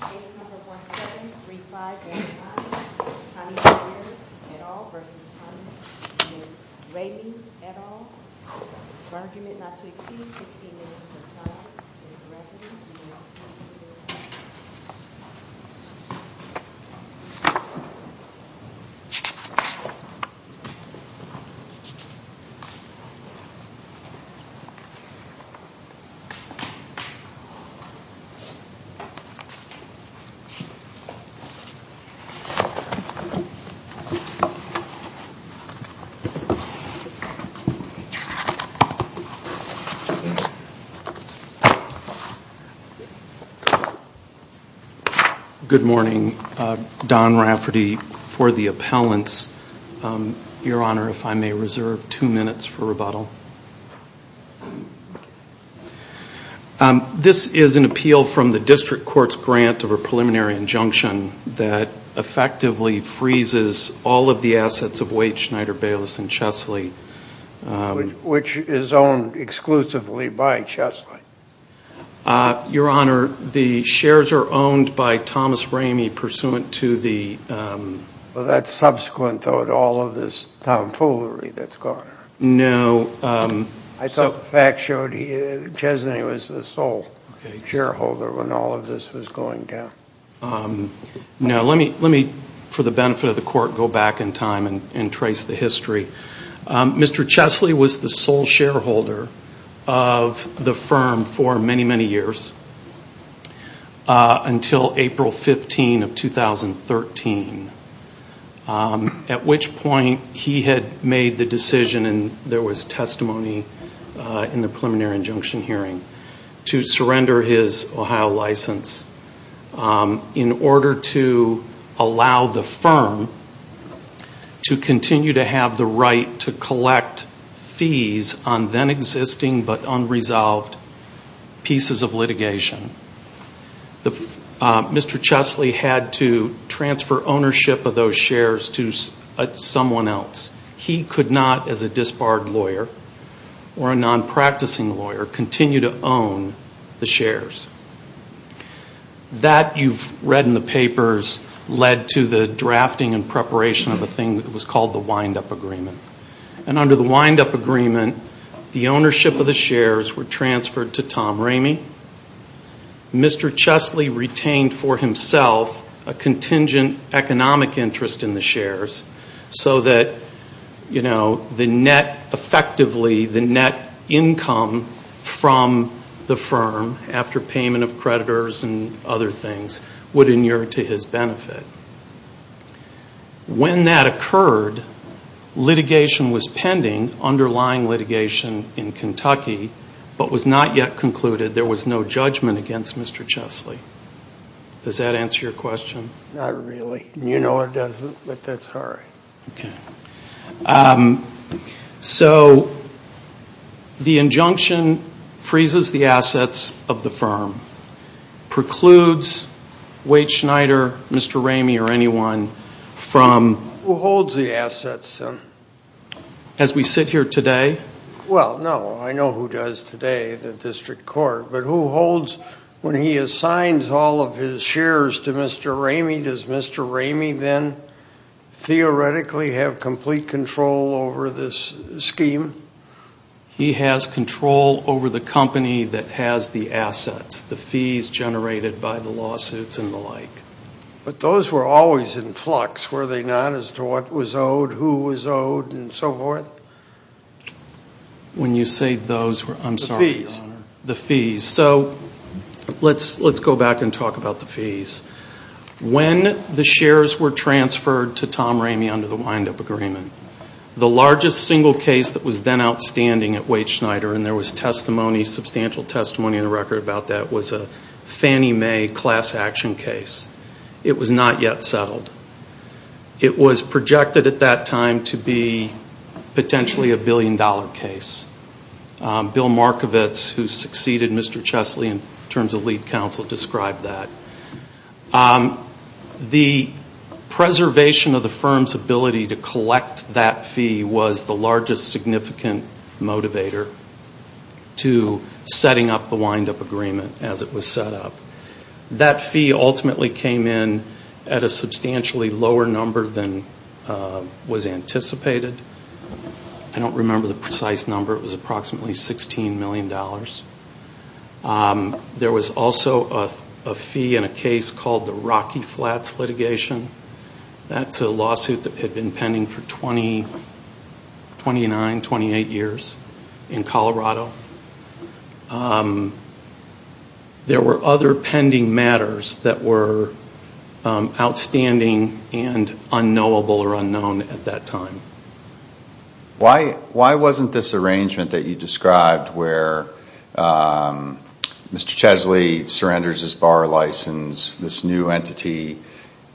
Case No. 1735A, Connie McGirr, et al. v. Thomas Rehme, et al. Argument not to exceed 15 minutes per side. Mr. Rehme, you may also be seated. Good morning. Don Rafferty for the appellants. Your Honor, if I may reserve two minutes for rebuttal. This is an appeal from the district court's grant of a preliminary injunction that effectively freezes all of the assets of Waite, Schneider, Bayless, and Chesley. Which is owned exclusively by Chesley. Your Honor, the shares are owned by Thomas Rehme pursuant to the... Well, that's subsequent, though, to all of this tomfoolery that's gone. No. I thought the facts showed Chesley was the sole shareholder when all of this was going down. No, let me, for the benefit of the court, go back in time and trace the history. Mr. Chesley was the sole shareholder of the firm for many, many years until April 15 of 2013. At which point he had made the decision, and there was testimony in the preliminary injunction hearing, to surrender his Ohio license. In order to allow the firm to continue to have the right to collect fees on then existing but unresolved pieces of litigation. Mr. Chesley had to transfer ownership of those shares to someone else. He could not, as a disbarred lawyer or a non-practicing lawyer, continue to own the shares. That, you've read in the papers, led to the drafting and preparation of a thing that was called the wind-up agreement. Under the wind-up agreement, the ownership of the shares were transferred to Tom Ramey. Mr. Chesley retained for himself a contingent economic interest in the shares so that the net, effectively, the net income from the firm after payment of creditors and other things would inure to his benefit. When that occurred, litigation was pending, underlying litigation in Kentucky, but was not yet concluded. There was no judgment against Mr. Chesley. Does that answer your question? Not really. You know it doesn't, but that's hard. Okay. So the injunction freezes the assets of the firm, precludes Wade Schneider, Mr. Ramey, or anyone from Who holds the assets? As we sit here today? Well, no. I know who does today, the district court, but who holds when he assigns all of his shares to Mr. Ramey? Does Mr. Ramey then theoretically have complete control over this scheme? He has control over the company that has the assets, the fees generated by the lawsuits and the like. But those were always in flux, were they not, as to what was owed, who was owed, and so forth? When you say those, I'm sorry. The fees. So let's go back and talk about the fees. When the shares were transferred to Tom Ramey under the wind-up agreement, the largest single case that was then outstanding at Wade Schneider, and there was testimony, substantial testimony in the record about that, was a Fannie Mae class action case. It was not yet settled. It was projected at that time to be potentially a billion-dollar case. Bill Markovitz, who succeeded Mr. Chesley in terms of lead counsel, described that. The preservation of the firm's ability to collect that fee was the largest significant motivator to setting up the wind-up agreement as it was set up. That fee ultimately came in at a substantially lower number than was anticipated. I don't remember the precise number. It was approximately $16 million. There was also a fee in a case called the Rocky Flats litigation. That's a lawsuit that had been pending for 29, 28 years in Colorado. There were other pending matters that were outstanding and unknowable or unknown at that time. Why wasn't this arrangement that you described where Mr. Chesley surrenders his bar license, this new entity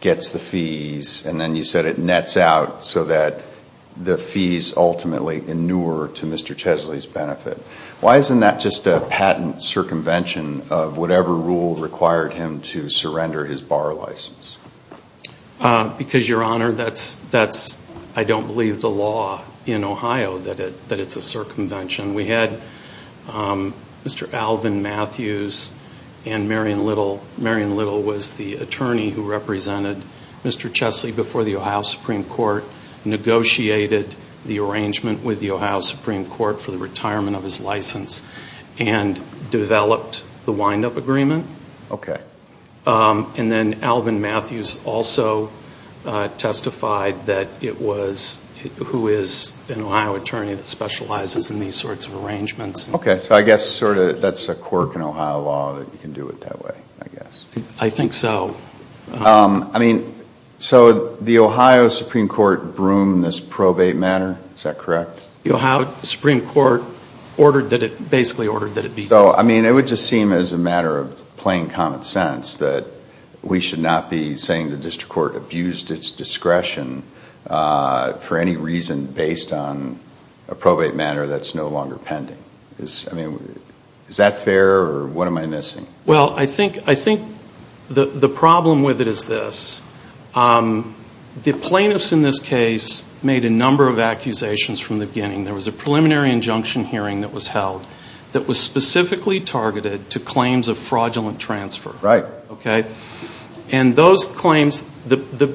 gets the fees, and then you said it nets out so that the fees ultimately inure to Mr. Chesley's benefit. Why isn't that just a patent circumvention of whatever rule required him to surrender his bar license? Because, Your Honor, I don't believe the law in Ohio that it's a circumvention. We had Mr. Alvin Matthews and Marion Little. Marion Little was the attorney who represented Mr. Chesley before the Ohio Supreme Court, negotiated the arrangement with the Ohio Supreme Court for the retirement of his license, and developed the wind-up agreement. Then Alvin Matthews also testified who is an Ohio attorney that specializes in these sorts of arrangements. Okay, so I guess sort of that's a quirk in Ohio law that you can do it that way, I guess. I think so. I mean, so the Ohio Supreme Court broomed this probate matter, is that correct? The Ohio Supreme Court ordered that it basically ordered that it be. So, I mean, it would just seem as a matter of plain common sense that we should not be saying the district court abused its discretion for any reason based on a probate matter that's no longer pending. I mean, is that fair or what am I missing? Well, I think the problem with it is this. The plaintiffs in this case made a number of accusations from the beginning. There was a preliminary injunction hearing that was held that was specifically targeted to claims of fraudulent transfer. Right. And those claims, the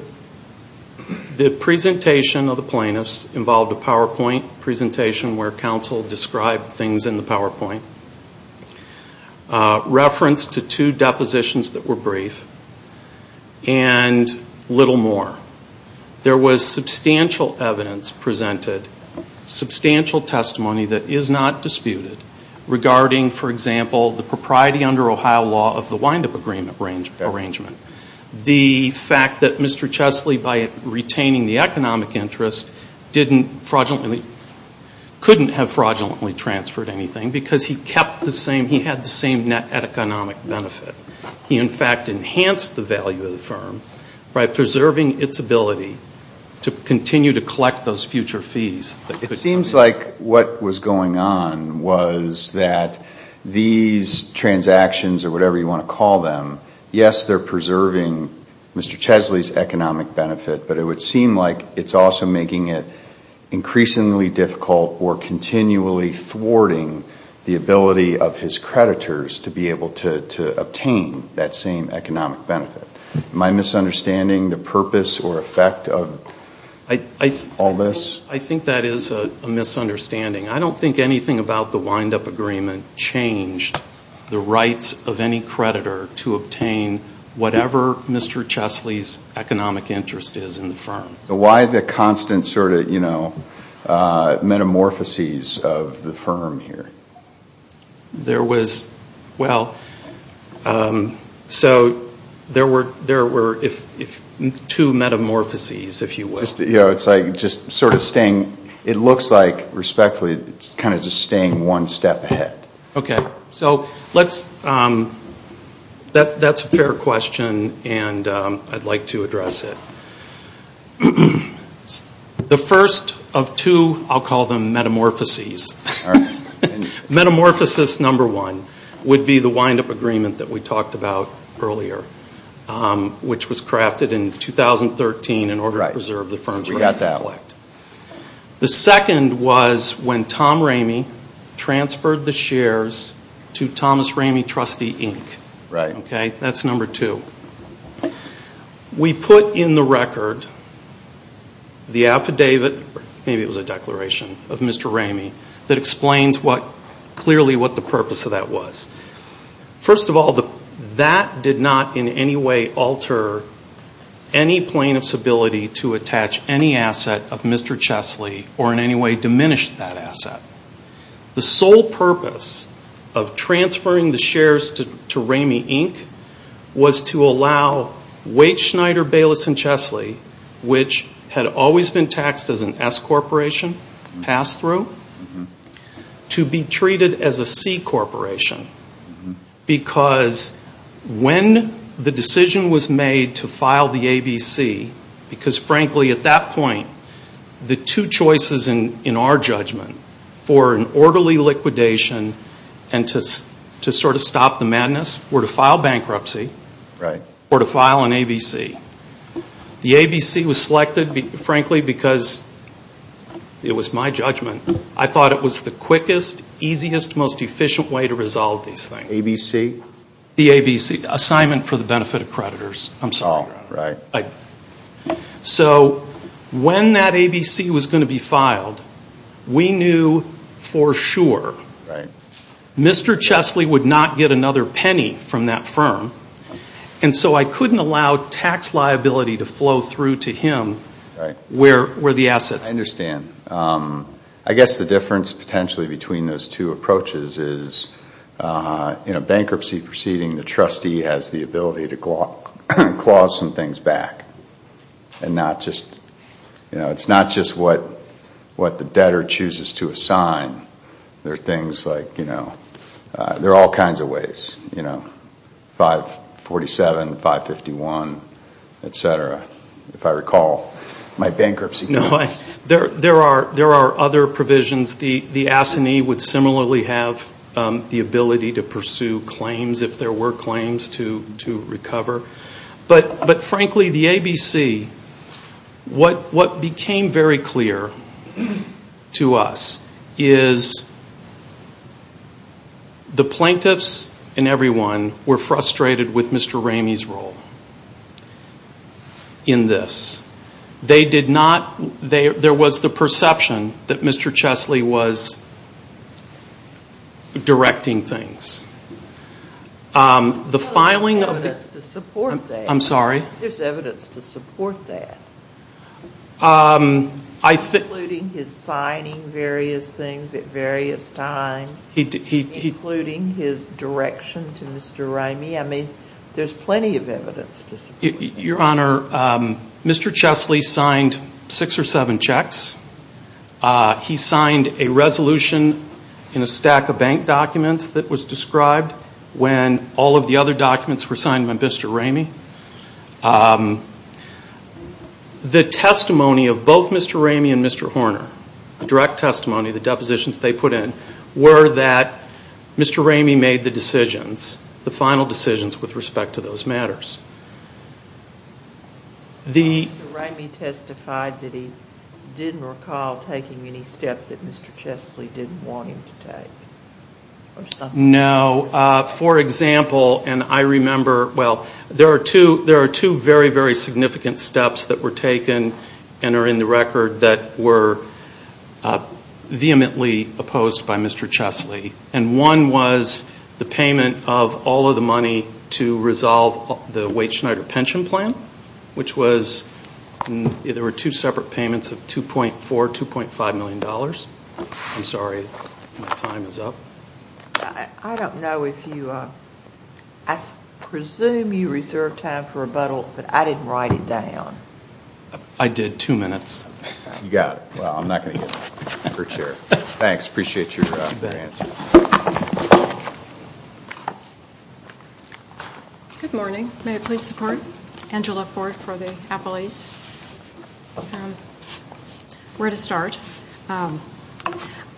presentation of the plaintiffs involved a PowerPoint presentation where counsel described things in the PowerPoint, reference to two depositions that were brief, and little more. There was substantial evidence presented, substantial testimony that is not disputed regarding, for example, the propriety under Ohio law of the wind-up agreement arrangement. The fact that Mr. Chesley, by retaining the economic interest, couldn't have fraudulently transferred anything because he kept the same, he had the same net economic benefit. He, in fact, enhanced the value of the firm by preserving its ability to continue to collect those future fees. It seems like what was going on was that these transactions or whatever you want to call them, yes, they're preserving Mr. Chesley's economic benefit, but it would seem like it's also making it increasingly difficult or continually thwarting the ability of his creditors to be able to obtain that same economic benefit. Am I misunderstanding the purpose or effect of all this? I think that is a misunderstanding. I don't think anything about the wind-up agreement changed the rights of any creditor to obtain whatever Mr. Chesley's economic interest is in the firm. Why the constant sort of metamorphoses of the firm here? There was, well, so there were two metamorphoses, if you will. It looks like, respectfully, it's kind of just staying one step ahead. Okay. That's a fair question, and I'd like to address it. The first of two, I'll call them metamorphoses. Metamorphosis number one would be the wind-up agreement that we talked about earlier, which was crafted in 2013 in order to preserve the firm's right to collect. The second was when Tom Ramey transferred the shares to Thomas Ramey Trustee, Inc. That's number two. We put in the record the affidavit, maybe it was a declaration of Mr. Ramey, that explains clearly what the purpose of that was. First of all, that did not in any way alter any plaintiff's ability to attach any asset of Mr. Chesley or in any way diminish that asset. The sole purpose of transferring the shares to Ramey, Inc. was to allow Waite, Schneider, Bayless, and Chesley, which had always been taxed as an S corporation pass-through, to be treated as a C corporation. Because when the decision was made to file the ABC, because frankly at that point, the two choices in our judgment for an orderly liquidation and to sort of stop the madness were to file bankruptcy or to file an ABC. The ABC was selected, frankly, because it was my judgment. I thought it was the quickest, easiest, most efficient way to resolve these things. ABC? The ABC, Assignment for the Benefit of Creditors. I'm sorry. Oh, right. So when that ABC was going to be filed, we knew for sure Mr. Chesley would not get another penny from that firm. And so I couldn't allow tax liability to flow through to him where the assets were. I understand. I guess the difference potentially between those two approaches is bankruptcy proceeding, the trustee has the ability to clause some things back. It's not just what the debtor chooses to assign. There are things like, you know, there are all kinds of ways, you know, 547, 551, et cetera. If I recall, my bankruptcy claims. There are other provisions. The Assinee would similarly have the ability to pursue claims if there were claims to recover. But frankly, the ABC, what became very clear to us is the plaintiffs and everyone were frustrated with Mr. Ramey's role in this. They did not, there was the perception that Mr. Chesley was directing things. There's evidence to support that. I'm sorry? There's evidence to support that, including his signing various things at various times, including his direction to Mr. Ramey. I mean, there's plenty of evidence to support that. Your Honor, Mr. Chesley signed six or seven checks. He signed a resolution in a stack of bank documents that was described when all of the other documents were signed by Mr. Ramey. The testimony of both Mr. Ramey and Mr. Horner, the direct testimony, the depositions they put in, were that Mr. Ramey made the decisions, the final decisions with respect to those matters. Mr. Ramey testified that he didn't recall taking any step that Mr. Chesley didn't want him to take. No. For example, and I remember, well, there are two very, very significant steps that were taken and are in the record that were vehemently opposed by Mr. Chesley. And one was the payment of all of the money to resolve the Wade-Schneider pension plan, which was, there were two separate payments of $2.4, $2.5 million. I'm sorry, my time is up. I don't know if you, I presume you reserved time for rebuttal, but I didn't write it down. I did, two minutes. You got it. Well, I'm not going to give it to her, Chair. Thanks, appreciate your answer. Good morning. May I please support Angela Ford for the appellees? Where to start?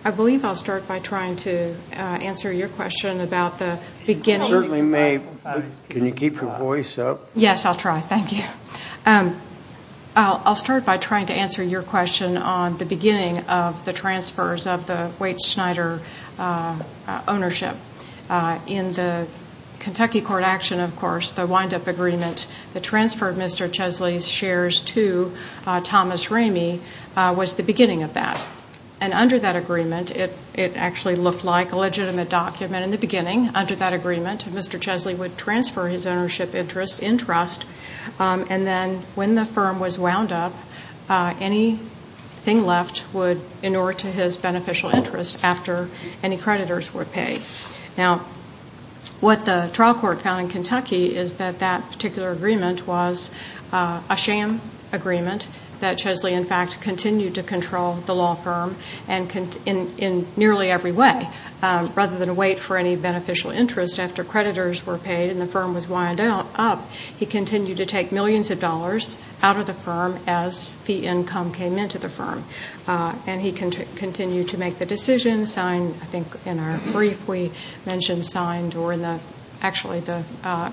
I believe I'll start by trying to answer your question about the beginning. You certainly may. Can you keep your voice up? Yes, I'll try. Thank you. I'll start by trying to answer your question on the beginning of the transfers of the Wade-Schneider ownership. In the Kentucky court action, of course, the wind-up agreement, the transfer of Mr. Chesley's shares to Thomas Ramey was the beginning of that. And under that agreement, it actually looked like a legitimate document in the beginning. Under that agreement, Mr. Chesley would transfer his ownership interest in trust, and then when the firm was wound up, anything left would inure to his beneficial interest after any creditors would pay. Now, what the trial court found in Kentucky is that that particular agreement was a sham agreement, that Chesley, in fact, continued to control the law firm in nearly every way. Rather than wait for any beneficial interest after creditors were paid and the firm was wound up, he continued to take millions of dollars out of the firm as fee income came into the firm. And he continued to make the decision, sign, I think in our brief we mentioned signed, or actually the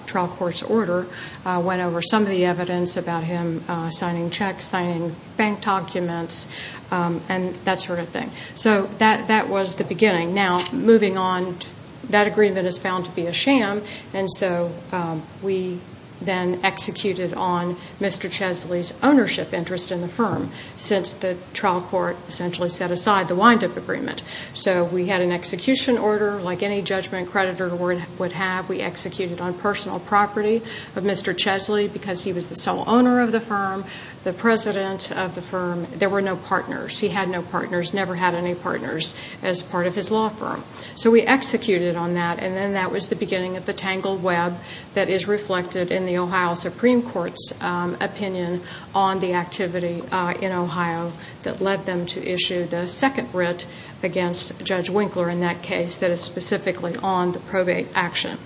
trial court's order went over some of the evidence about him signing checks, signing bank documents, and that sort of thing. So that was the beginning. Now, moving on, that agreement is found to be a sham, and so we then executed on Mr. Chesley's ownership interest in the firm since the trial court essentially set aside the wind-up agreement. So we had an execution order like any judgment creditor would have. We executed on personal property of Mr. Chesley because he was the sole owner of the firm, the president of the firm. There were no partners. He had no partners, never had any partners as part of his law firm. So we executed on that, and then that was the beginning of the tangled web that is reflected in the Ohio Supreme Court's opinion on the activity in Ohio that led them to issue the second writ against Judge Winkler in that case that is specifically on the probate action.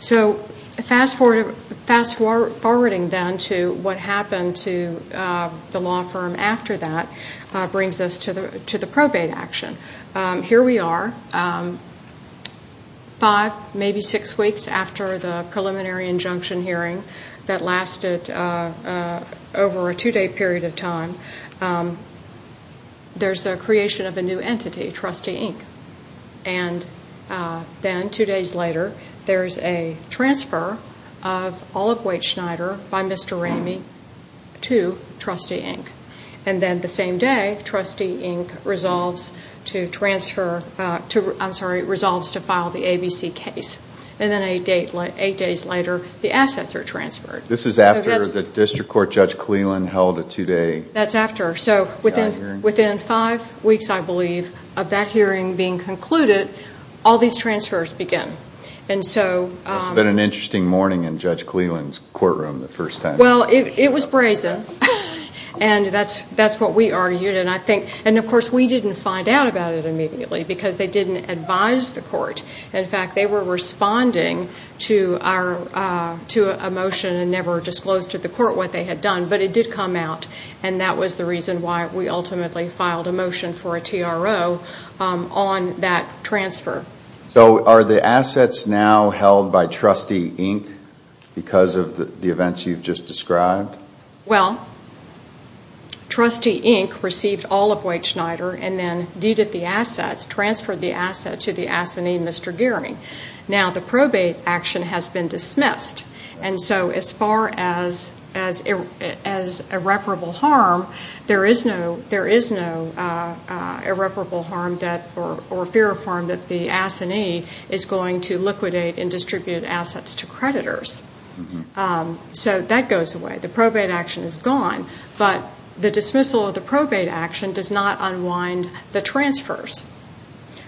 So fast-forwarding then to what happened to the law firm after that brings us to the probate action. Here we are, five, maybe six weeks after the preliminary injunction hearing that lasted over a two-day period of time. There's the creation of a new entity, Trustee Inc., and then two days later, there's a transfer of Olive Waite Schneider by Mr. Ramey to Trustee Inc., and then the same day, Trustee Inc. resolves to transfer, I'm sorry, resolves to file the ABC case. And then eight days later, the assets are transferred. This is after the district court Judge Cleland held a two-day hearing? That's after. So within five weeks, I believe, of that hearing being concluded, all these transfers begin. It must have been an interesting morning in Judge Cleland's courtroom the first time. Well, it was brazen, and that's what we argued. And, of course, we didn't find out about it immediately because they didn't advise the court. In fact, they were responding to a motion and never disclosed to the court what they had done, but it did come out. And that was the reason why we ultimately filed a motion for a TRO on that transfer. So are the assets now held by Trustee Inc. because of the events you've just described? Well, Trustee Inc. received Olive Waite Schneider and then deeded the assets, transferred the assets to the assignee, Mr. Geary. Now the probate action has been dismissed, and so as far as irreparable harm, there is no irreparable harm or fear of harm that the assignee is going to liquidate and distribute assets to creditors. So that goes away. The probate action is gone, but the dismissal of the probate action does not unwind the transfers.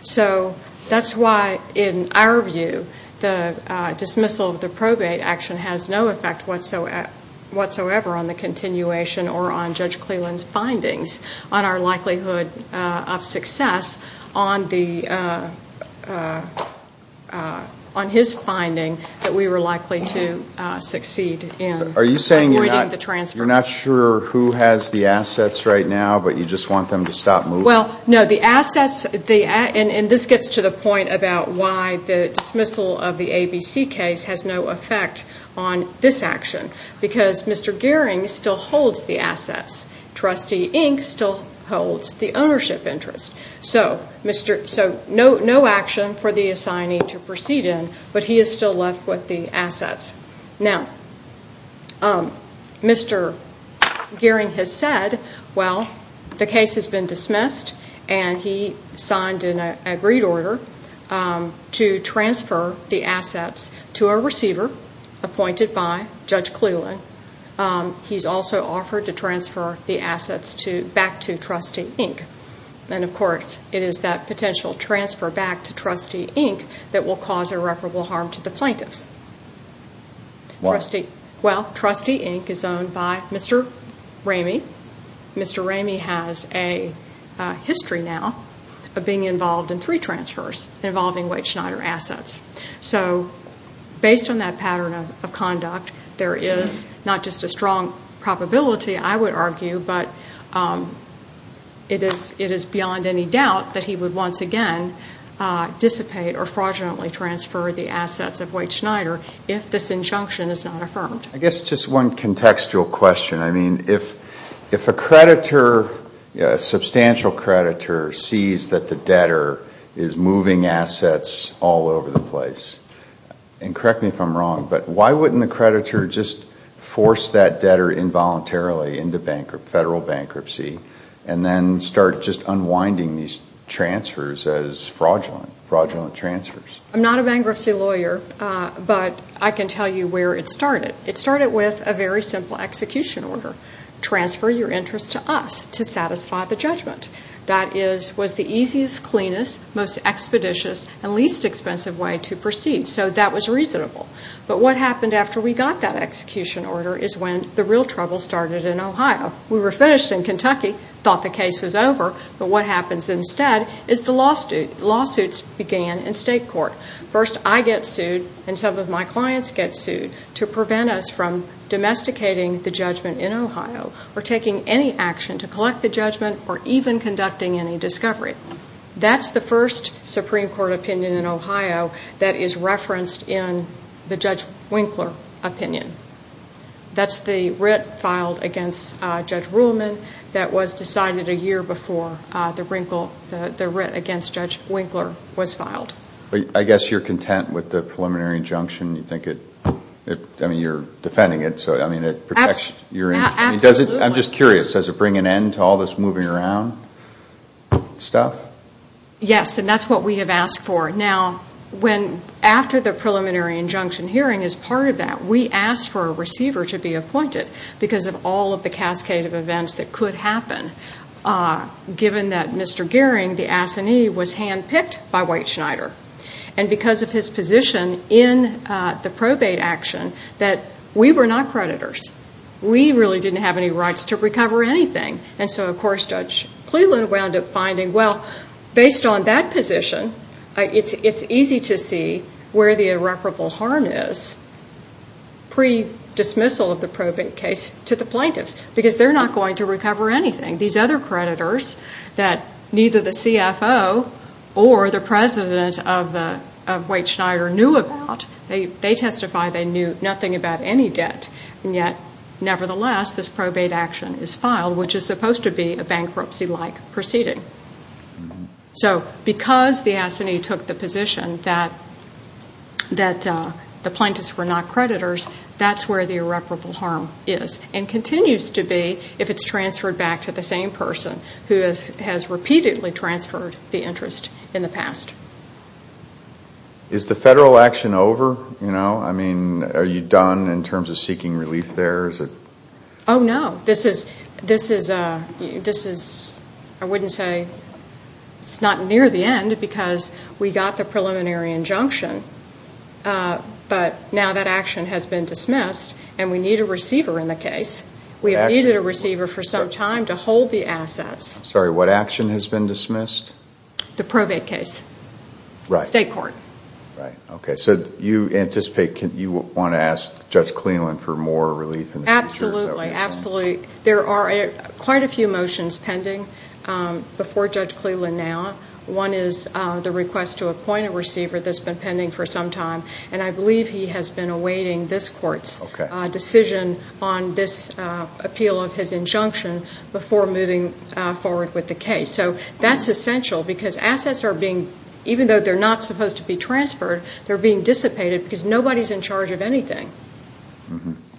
So that's why, in our view, the dismissal of the probate action has no effect whatsoever on the continuation or on Judge Cleland's findings on our likelihood of success on his finding that we were likely to succeed in avoiding the transfer. Are you saying you're not sure who has the assets right now, but you just want them to stop moving? Well, no. And this gets to the point about why the dismissal of the ABC case has no effect on this action, because Mr. Geary still holds the assets. Trustee Inc. still holds the ownership interest. So no action for the assignee to proceed in, but he is still left with the assets. Now, Mr. Geary has said, well, the case has been dismissed, and he signed an agreed order to transfer the assets to a receiver appointed by Judge Cleland. He's also offered to transfer the assets back to Trustee Inc. And, of course, it is that potential transfer back to Trustee Inc. that will cause irreparable harm to the plaintiffs. Why? Well, Trustee Inc. is owned by Mr. Ramey. Mr. Ramey has a history now of being involved in three transfers involving Wade Schneider assets. So based on that pattern of conduct, there is not just a strong probability, I would argue, but it is beyond any doubt that he would once again dissipate or fraudulently transfer the assets of Wade Schneider if this injunction is not affirmed. I guess just one contextual question. I mean, if a creditor, a substantial creditor, sees that the debtor is moving assets all over the place, and correct me if I'm wrong, but why wouldn't the creditor just force that debtor involuntarily into federal bankruptcy and then start just unwinding these transfers as fraudulent, fraudulent transfers? I'm not a bankruptcy lawyer, but I can tell you where it started. It started with a very simple execution order. Transfer your interest to us to satisfy the judgment. That was the easiest, cleanest, most expeditious, and least expensive way to proceed. So that was reasonable. But what happened after we got that execution order is when the real trouble started in Ohio. We were finished in Kentucky, thought the case was over, but what happens instead is the lawsuits began in state court. First I get sued and some of my clients get sued to prevent us from domesticating the judgment in Ohio or taking any action to collect the judgment or even conducting any discovery. That's the first Supreme Court opinion in Ohio that is referenced in the Judge Winkler opinion. That's the writ filed against Judge Ruhlman that was decided a year before the writ against Judge Winkler was filed. I guess you're content with the preliminary injunction. You think it, I mean, you're defending it, so I mean it protects your interest. Absolutely. I'm just curious. Does it bring an end to all this moving around stuff? Yes, and that's what we have asked for. Now, after the preliminary injunction hearing is part of that, we asked for a receiver to be appointed because of all of the cascade of events that could happen. Given that Mr. Goering, the assinee, was handpicked by White Schneider, and because of his position in the probate action that we were not creditors. We really didn't have any rights to recover anything. And so, of course, Judge Cleveland wound up finding, well, based on that position, it's easy to see where the irreparable harm is pre-dismissal of the probate case to the plaintiffs because they're not going to recover anything. These other creditors that neither the CFO or the president of White Schneider knew about, they testify they knew nothing about any debt. And yet, nevertheless, this probate action is filed, which is supposed to be a bankruptcy-like proceeding. So because the assinee took the position that the plaintiffs were not creditors, that's where the irreparable harm is and continues to be if it's transferred back to the same person who has repeatedly transferred the interest in the past. Is the federal action over? I mean, are you done in terms of seeking relief there? Oh, no. This is, I wouldn't say, it's not near the end because we got the preliminary injunction. But now that action has been dismissed and we need a receiver in the case. We have needed a receiver for some time to hold the assets. Sorry, what action has been dismissed? The probate case. Right. State court. Right. Okay. So you anticipate you want to ask Judge Cleveland for more relief in the future? Absolutely. Absolutely. There are quite a few motions pending before Judge Cleveland now. One is the request to appoint a receiver that's been pending for some time. And I believe he has been awaiting this court's decision on this appeal of his injunction before moving forward with the case. So that's essential because assets are being, even though they're not supposed to be transferred, they're being dissipated because nobody's in charge of anything.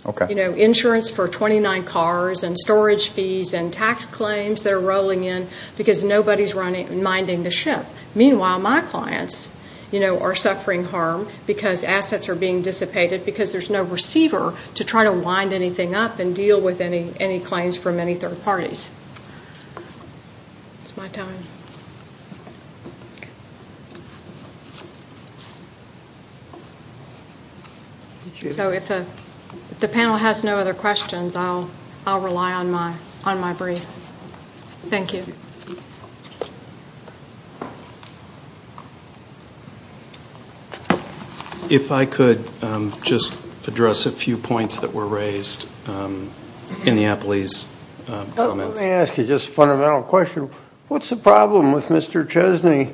Okay. You know, insurance for 29 cars and storage fees and tax claims that are rolling in because nobody's minding the ship. Meanwhile, my clients, you know, are suffering harm because assets are being dissipated because there's no receiver to try to wind anything up and deal with any claims from any third parties. It's my time. So if the panel has no other questions, I'll rely on my brief. Thank you. If I could just address a few points that were raised in the Apley's comments. Let me ask you just a fundamental question. What's the problem with Mr. Chesney?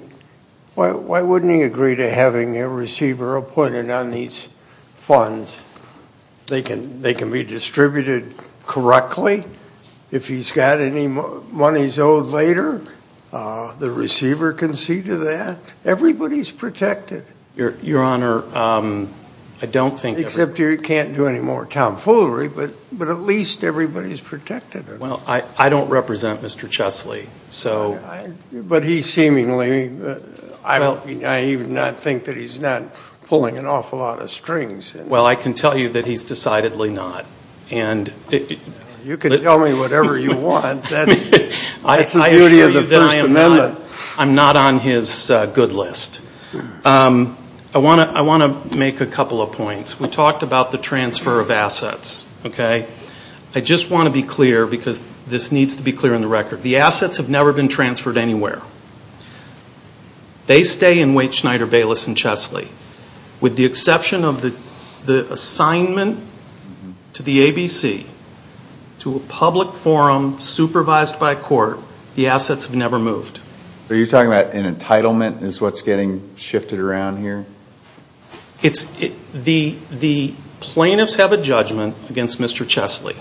Why wouldn't he agree to having a receiver appointed on these funds? They can be distributed correctly. If he's got any monies owed later, the receiver can see to that. Everybody's protected. Your Honor, I don't think. Except you can't do any more tomfoolery, but at least everybody's protected. Well, I don't represent Mr. Chesney, so. But he seemingly, I would not think that he's not pulling an awful lot of strings. Well, I can tell you that he's decidedly not. You can tell me whatever you want. That's the beauty of the First Amendment. I'm not on his good list. I want to make a couple of points. We talked about the transfer of assets. I just want to be clear because this needs to be clear on the record. The assets have never been transferred anywhere. They stay in Waite, Schneider, Bayless, and Chesney. With the exception of the assignment to the ABC, to a public forum supervised by court, the assets have never moved. So you're talking about an entitlement is what's getting shifted around here? The plaintiffs have a judgment against Mr. Chesney.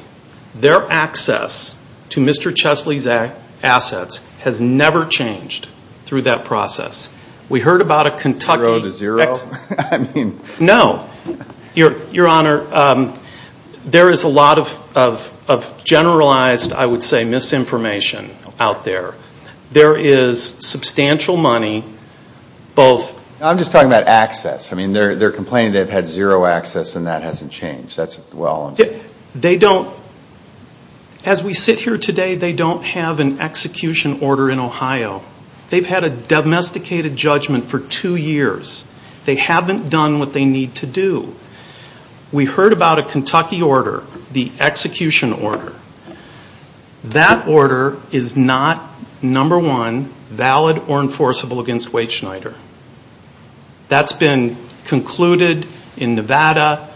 Their access to Mr. Chesney's assets has never changed through that process. We heard about a Kentucky. Zero to zero? No. Your Honor, there is a lot of generalized, I would say, misinformation out there. There is substantial money both. I'm just talking about access. I mean, they're complaining they've had zero access and that hasn't changed. That's well and true. They don't. As we sit here today, they don't have an execution order in Ohio. They've had a domesticated judgment for two years. They haven't done what they need to do. We heard about a Kentucky order, the execution order. That order is not, number one, valid or enforceable against Waite, Schneider. That's been concluded in Nevada.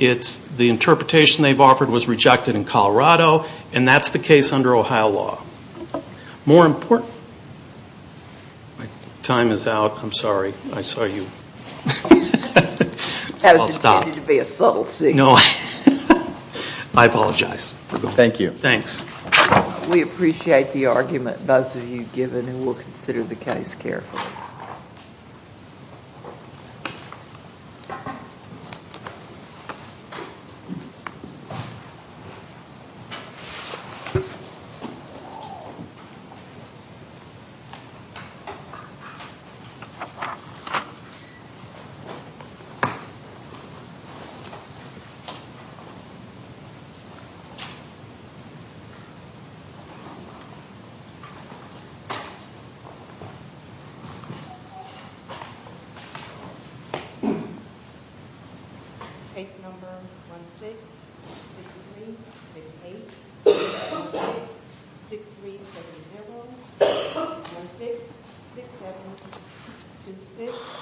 The interpretation they've offered was rejected in Colorado, and that's the case under Ohio law. More important. My time is out. I'm sorry. I saw you. I'll stop. That was intended to be a subtle statement. I apologize. Thank you. Thanks. We appreciate the argument both of you have given, and we'll consider the case carefully. Thank you. Case number 166368. Case number 166370. 166726.